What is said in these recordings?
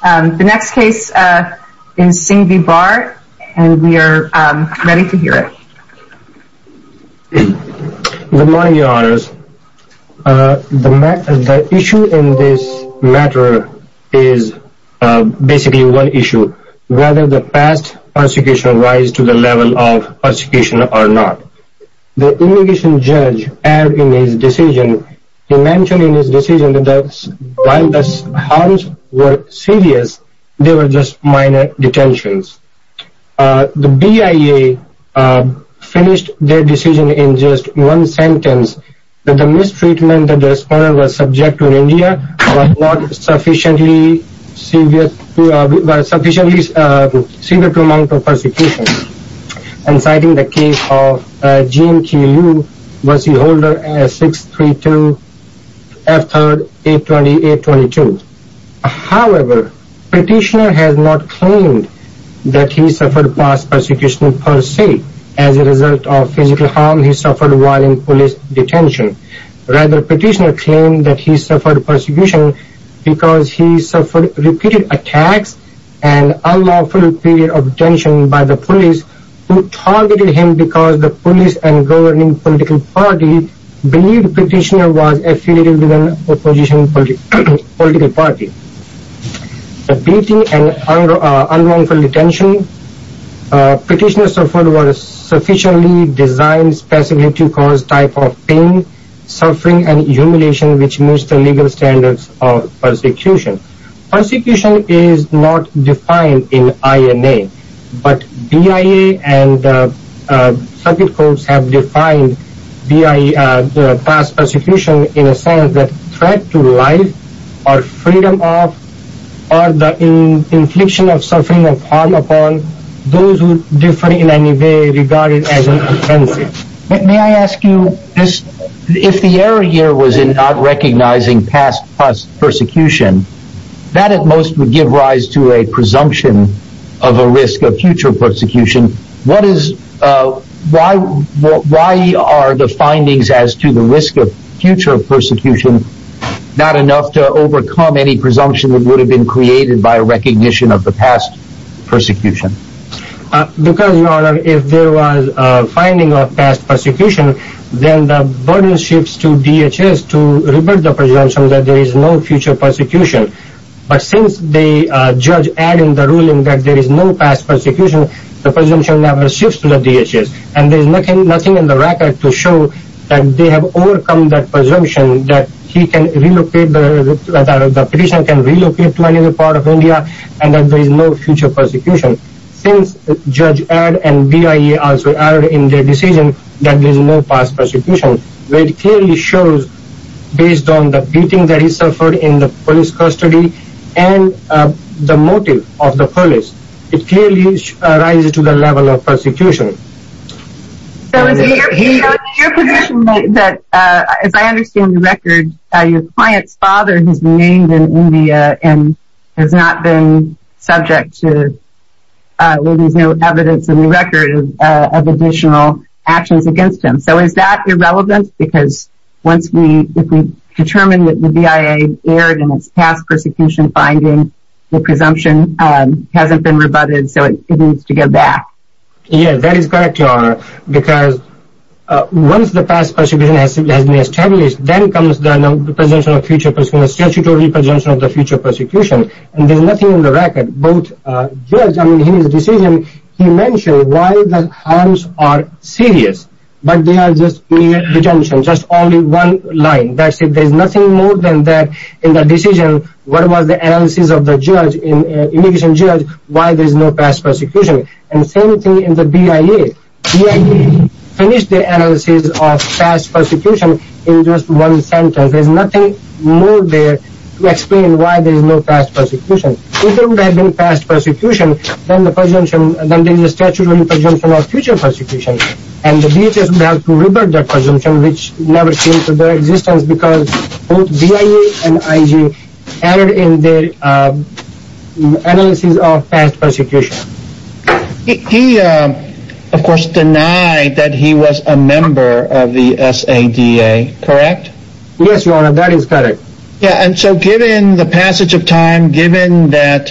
Good morning, your honors. The issue in this matter is basically one issue, whether the past persecution rise to the level of persecution or not. The indication judge, in his decision, while the harms were serious, they were just minor detentions. The BIA finished their decision in just one sentence, that the mistreatment that the respondent was subject to in India was not sufficiently severe to amount of persecution. And citing the case of GMTU, was he holder of 632 F3 820 A22. However, petitioner has not claimed that he suffered past persecution per se. As a result of physical harm, he suffered while in police detention. Rather, petitioner claimed that he suffered persecution because he suffered repeated attacks and unlawful period of believed petitioner was affiliated with an opposition political party. The beating and unlawful detention, petitioner suffered was sufficiently designed specifically to cause type of pain, suffering and humiliation which meets the legal standards of persecution. Persecution is not defined in INA, but BIA and circuit courts have defined past persecution in a sense that threat to life or freedom of or the infliction of suffering of harm upon those who differ in any way regarded as an offensive. May I ask you this, if the error was in not recognizing past persecution, that at most would give rise to a presumption of a risk of future persecution. Why are the findings as to the risk of future persecution not enough to overcome any presumption that would have been created by recognition of the past persecution? Because your honor, if there was a finding of past persecution, then the burden shifts to DHS to revert the presumption that there is no future persecution. But since the judge added in the ruling that there is no past persecution, the presumption never shifts to the DHS and there's nothing nothing in the record to show that they have overcome that presumption that he can relocate the petitioner can relocate to another part of India and that there is no future persecution. Since the judge added and BIA also added in their decision that there is no past persecution, where it clearly shows based on the beating that he suffered in the police custody and the motive of the police, it clearly rises to the level of persecution. So is it your position that as I was named in India and has not been subject to evidence in the record of additional actions against him? So is that irrelevant? Because once we determine that the BIA aired in its past persecution finding, the presumption hasn't been rebutted, so it needs to go back? Yeah, that is correct, your honor. Because once the past persecution has been established, then comes the presumption of future persecution, the statutory presumption of the future persecution, and there's nothing in the record. Both judges, I mean, in his decision, he mentioned why the harms are serious, but they are just mere presumptions, just only one line. That's it. There's nothing more than that in the decision. What was the analysis of the judge, immigration judge, why there is no past persecution? And the same thing in the BIA. BIA finished the analysis of just one sentence. There's nothing more there to explain why there's no past persecution. If there would have been past persecution, then there's a statutory presumption of future persecution, and the BIA would have to rebut that presumption, which never came to their existence because both BIA and IG aired in their analysis of past persecution. He, of course, denied that he was a member of the SADA, correct? Yes, your honor, that is correct. Yeah, and so given the passage of time, given that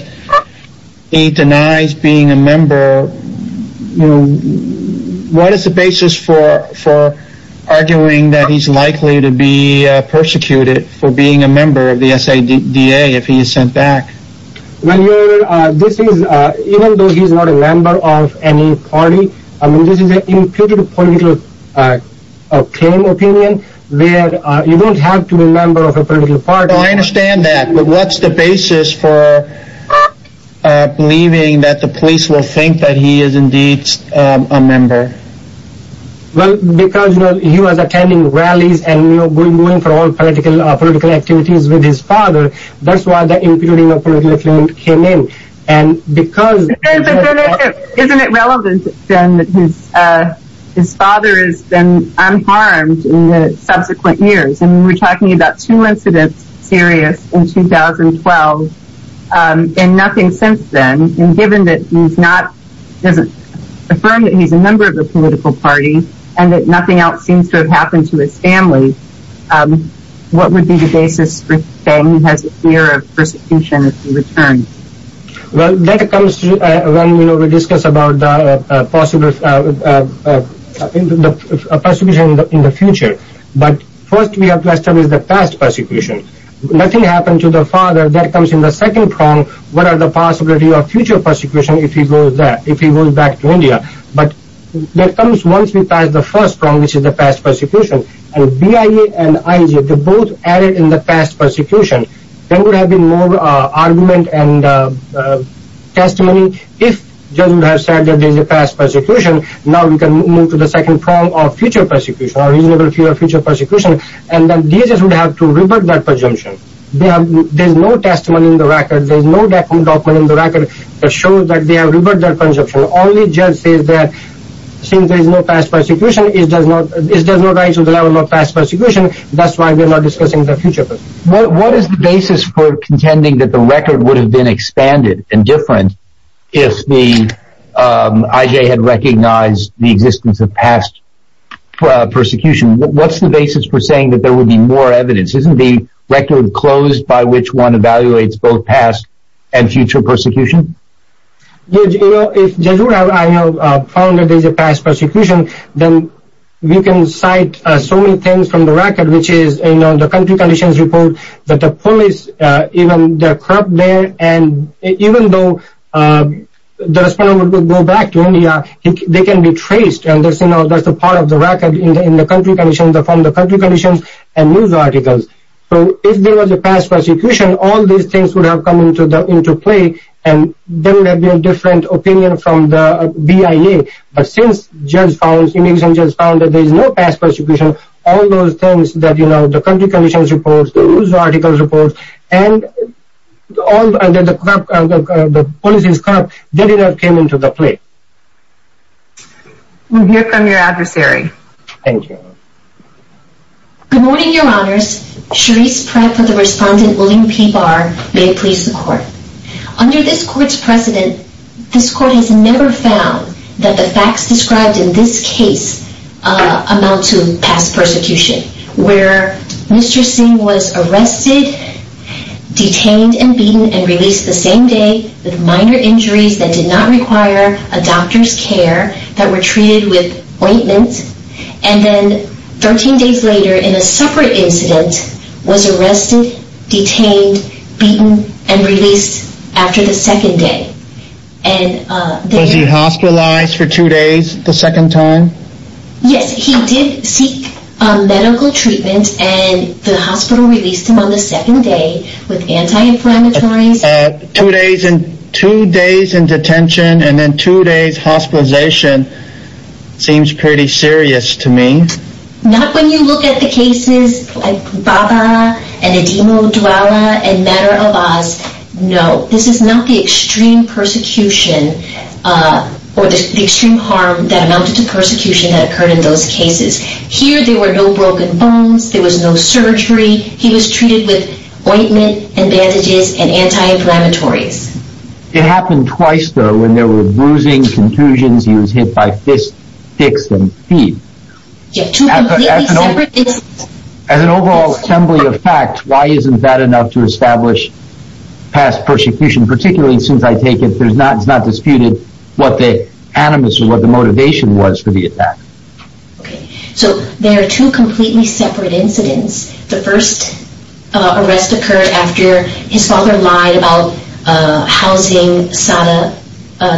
he denies being a member, what is the basis for arguing that he's likely to be persecuted for being a member of the SADA if he is sent back? Well, your honor, this is, even though he's not a member of any party, I mean, this is an imputed political claim opinion where you don't have to be a member of a political party. I understand that, but what's the basis for believing that the police will think that he is indeed a member? Well, because, you know, he was attending rallies and, you know, going for all political activities with his father. That's why the imputing of political claim came in, and because... Isn't it relevant, then, that his father has been unharmed in the subsequent years? And we're talking about two incidents serious in 2012, and nothing since then. And given that he's not, doesn't affirm that he's a member of a political party, and that nothing else Then he has a fear of persecution in return. Well, that comes when, you know, we discuss about the possible persecution in the future. But first we have to establish the past persecution. Nothing happened to the father, that comes in the second prong. What are the possibilities of future persecution if he goes back to India? But that comes once we pass the first prong, which is the past persecution. And BIA and IJ, they're both added in the past persecution. Then there would have been more argument and testimony if judges would have said that there's a past persecution. Now we can move to the second prong of future persecution, or reasonable fear of future persecution. And then judges would have to revert that presumption. There's no testimony in the record, there's no document in the record that shows that they have reverted that presumption. Only judge says that since there's no past persecution, it does not go to the level of past persecution. That's why we're not discussing the future. What is the basis for contending that the record would have been expanded and different if the IJ had recognized the existence of past persecution? What's the basis for saying that there would be more evidence? Isn't the record closed by which one evaluates both past and future persecution? If judges would have found that there's a past persecution, then we can cite so many things from the record, which is the country conditions report, that the police, even the corrupt there, and even though the respondent would go back to India, they can be traced. And that's a part of the record in the country conditions, from the country conditions and news articles. So if there was a past persecution, all these things would have come into play and there would have been a different opinion from the BIA. But since the immigration judge found that there's no past persecution, all those things that, you know, the country conditions report, the news articles report, and that the police is corrupt, they did not come into the play. We hear from your adversary. Thank you. Good morning, your honors. Sharice Pratt for the respondent, William P. Barr. May it please the court. Under this court's precedent, this court has never found that the facts described in this case amount to past persecution, where Mr. Singh was arrested, detained and beaten and released the same day, with minor injuries that did not require a doctor's care, that were treated with ointment, and then 13 days later, in a separate incident, was arrested, detained, beaten and released after the second day. Was he hospitalized for two days the second time? Yes, he did seek medical treatment and the hospital released him on the second day with anti-inflammatories. Two days in detention and then two days hospitalization seems pretty serious to me. Not when you look at the cases like Bhabha and Edimo Dwella and Madar Abbas. No, this is not the extreme persecution or the extreme harm that amounted to persecution that occurred in those cases. Here there were no broken bones, there was no surgery, he was treated with ointment and bandages and anti-inflammatories. It happened twice though, when there were bruising, contusions, he was hit by fists, dicks and feet. Two completely separate incidents. As an overall assembly of facts, why isn't that enough to establish past persecution, particularly since I take it that it's not disputed what the animus or what the motivation was for the attack. So there are two completely separate incidents. The first arrest occurred after his father lied about housing Sada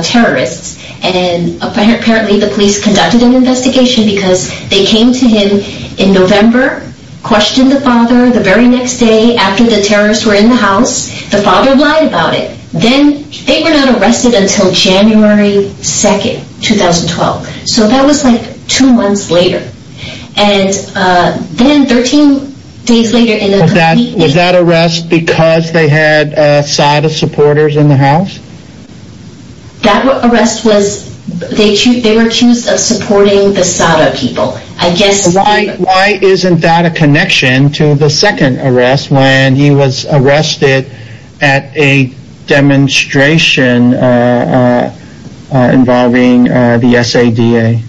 terrorists and apparently the police conducted an investigation because they came to him in November, questioned the father the very next day after the terrorists were in the house. The father lied about it. Then they were not arrested until January 2nd, 2012. So that was like two months later. And then 13 days later... Was that arrest because they had Sada supporters in the house? That arrest was... They were accused of supporting the Sada people. I guess... Why isn't that a connection to the second arrest when he was arrested at a demonstration involving the SADA?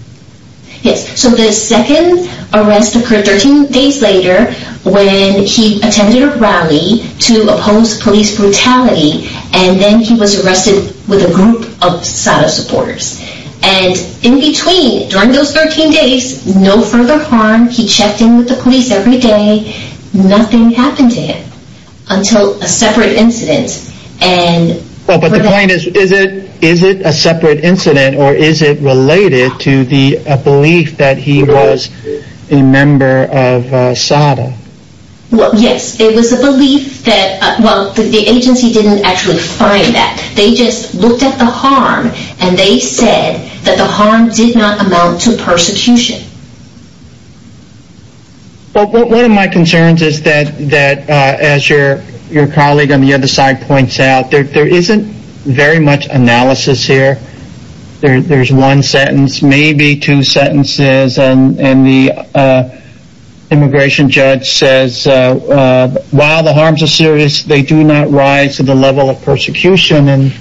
Yes. So the second arrest occurred 13 days later when he attended a rally to oppose police brutality and then he was arrested with a group of Sada supporters. And in between, during those 13 days, no further harm. He checked in with the police every day. Nothing happened to him until a separate incident. But the point is, is it a separate incident or is it related to the belief that he was a member of Sada? Well, yes. It was a belief that... Well, the agency didn't actually find that. They just looked at the harm and they said that the harm did not amount to persecution. One of my concerns is that as your colleague on the other side points out there isn't very much analysis here. There's one sentence, maybe two sentences and the immigration judge says while the harms are serious they do not rise to the level of persecution and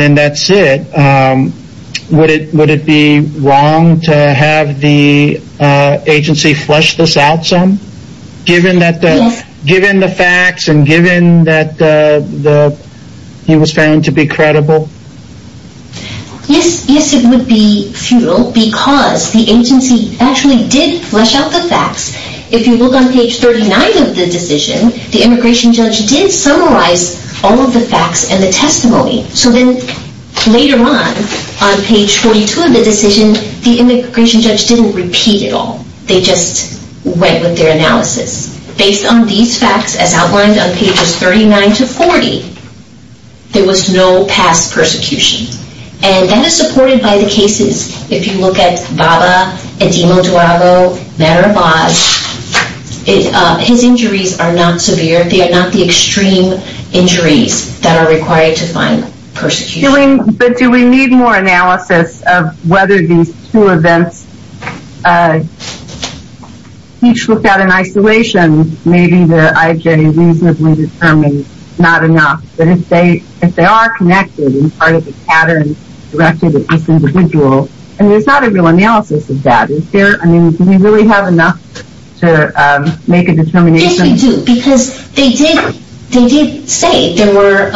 then that's it. Would it be wrong to have the agency flesh this out some? Given the facts and given that he was found to be credible? Yes, it would be futile because the agency actually did flesh out the facts. If you look on page 39 of the decision the immigration judge did summarize all of the facts and the testimony. So then later on, on page 42 of the decision the immigration judge didn't repeat it all. They just went with their analysis. Based on these facts as outlined on pages 39 to 40 there was no past persecution. And that is supported by the cases if you look at Bhabha, Edimo Duago, Madar Abbas his injuries are not severe they are not the extreme injuries that are required to find persecution. But do we need more analysis of whether these two events each looked at in isolation maybe the IJ reasonably determined not enough but if they are connected and part of the pattern directed at this individual there's not a real analysis of that. Do we really have enough to make a determination? Yes, we do. Because they did say there were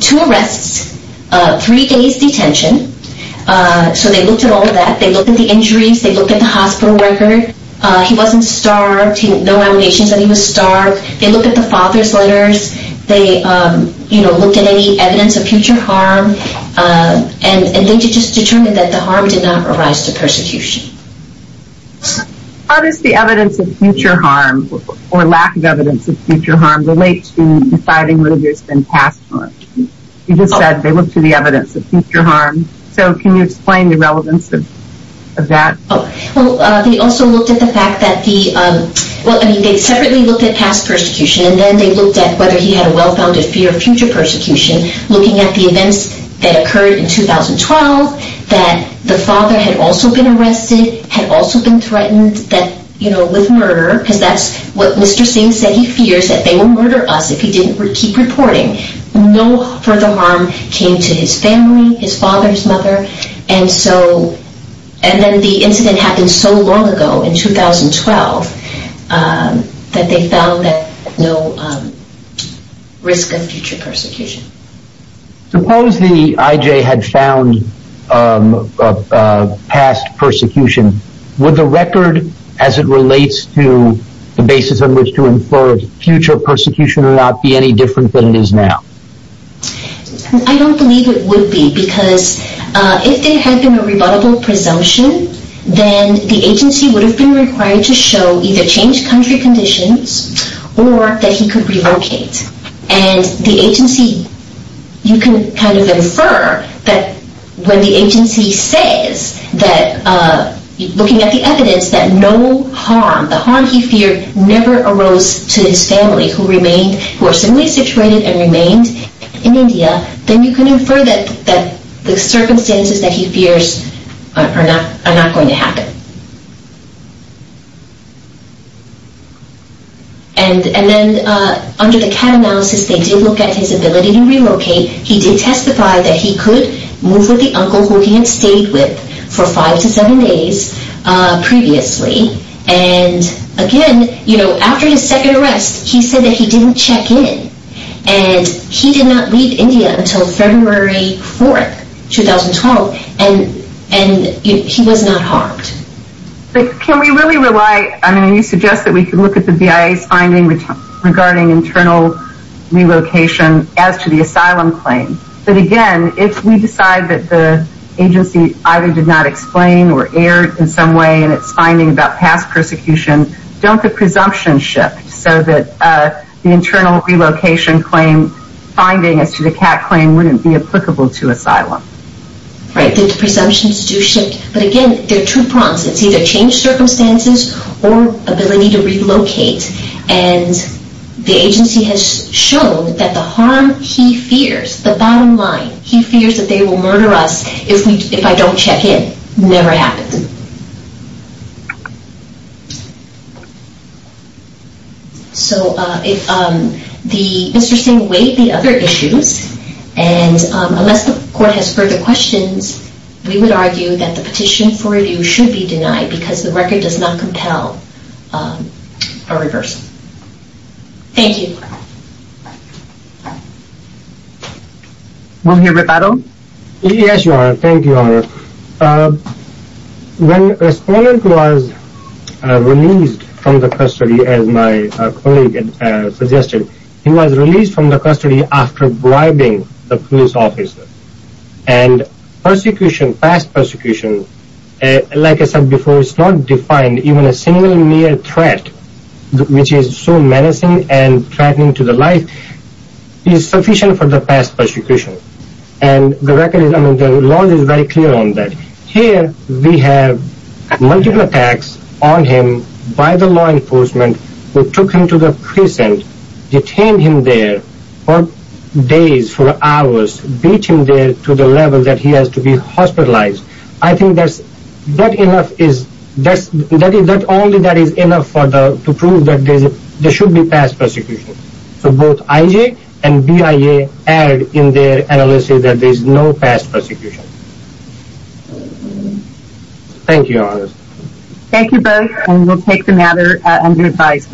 two arrests three days detention so they looked at all of that they looked at the injuries they looked at the hospital record he wasn't starved no allegations that he was starved they looked at the father's letters they looked at any evidence of future harm and they just determined that the harm did not arise to persecution. How does the evidence of future harm or lack of evidence of future harm relate to deciding whether there's been past harm? You just said they looked at the evidence of future harm so can you explain the relevance of that? They also looked at the fact that they separately looked at past persecution whether he had a well-founded fear of future persecution looking at the events that occurred in 2012 that the father had also been arrested had also been threatened with murder because that's what Mr. Singh said he fears that they will murder us if he didn't keep reporting no further harm came to his family his father, his mother and then the incident happened so long ago in 2012 that they found that no risk of future persecution Suppose the IJ had found past persecution would the record as it relates to the basis on which to infer future persecution would not be any different than it is now? I don't believe it would be because if there had been a rebuttable presumption then the agency would have been required to show either changed country conditions or that he could relocate and the agency you can kind of infer that when the agency says that looking at the evidence that no harm, the harm he feared never arose to his family who remained, who were similarly situated then you can infer that the circumstances that he fears are not going to happen and then under the CAT analysis they did look at his ability to relocate he did testify that he could move with the uncle who he had stayed with for 5 to 7 days previously and again after his second arrest he said that he didn't check in and he did not leave India until February 4, 2012 and he was not harmed Can we really rely I mean you suggest that we can look at the BIA's finding regarding internal relocation as to the asylum claim but again if we decide that the agency either did not explain or erred in some way in its finding about past persecution don't the presumptions shift so that the internal relocation claim finding as to the CAT claim wouldn't be applicable to asylum Right, the presumptions do shift but again, they're two prongs it's either changed circumstances or ability to relocate and the agency has shown that the harm he fears the bottom line he fears that they will murder us if I don't check in never happened So Mr. Singh weighed the other issues and unless the court has further questions we would argue that the petition for review should be denied because the record does not compel a reverse Thank you Mr. Bratado Yes, Your Honor Thank you, Your Honor When a respondent was released from the custody as my colleague suggested he was released from the custody after bribing the police officer and persecution past persecution like I said before, it's not defined even a single mere threat which is so menacing and threatening to the life is sufficient for the past persecution and the record the law is very clear on that here we have multiple attacks on him by the law enforcement who took him to the prison detained him there for days, for hours beat him there to the level that he has to be hospitalized I think that's only that is enough to prove that there should be past persecution So both IJ and BIA add in their analysis that there is no past persecution Thank you, Your Honor Thank you both and we'll take the matter under advice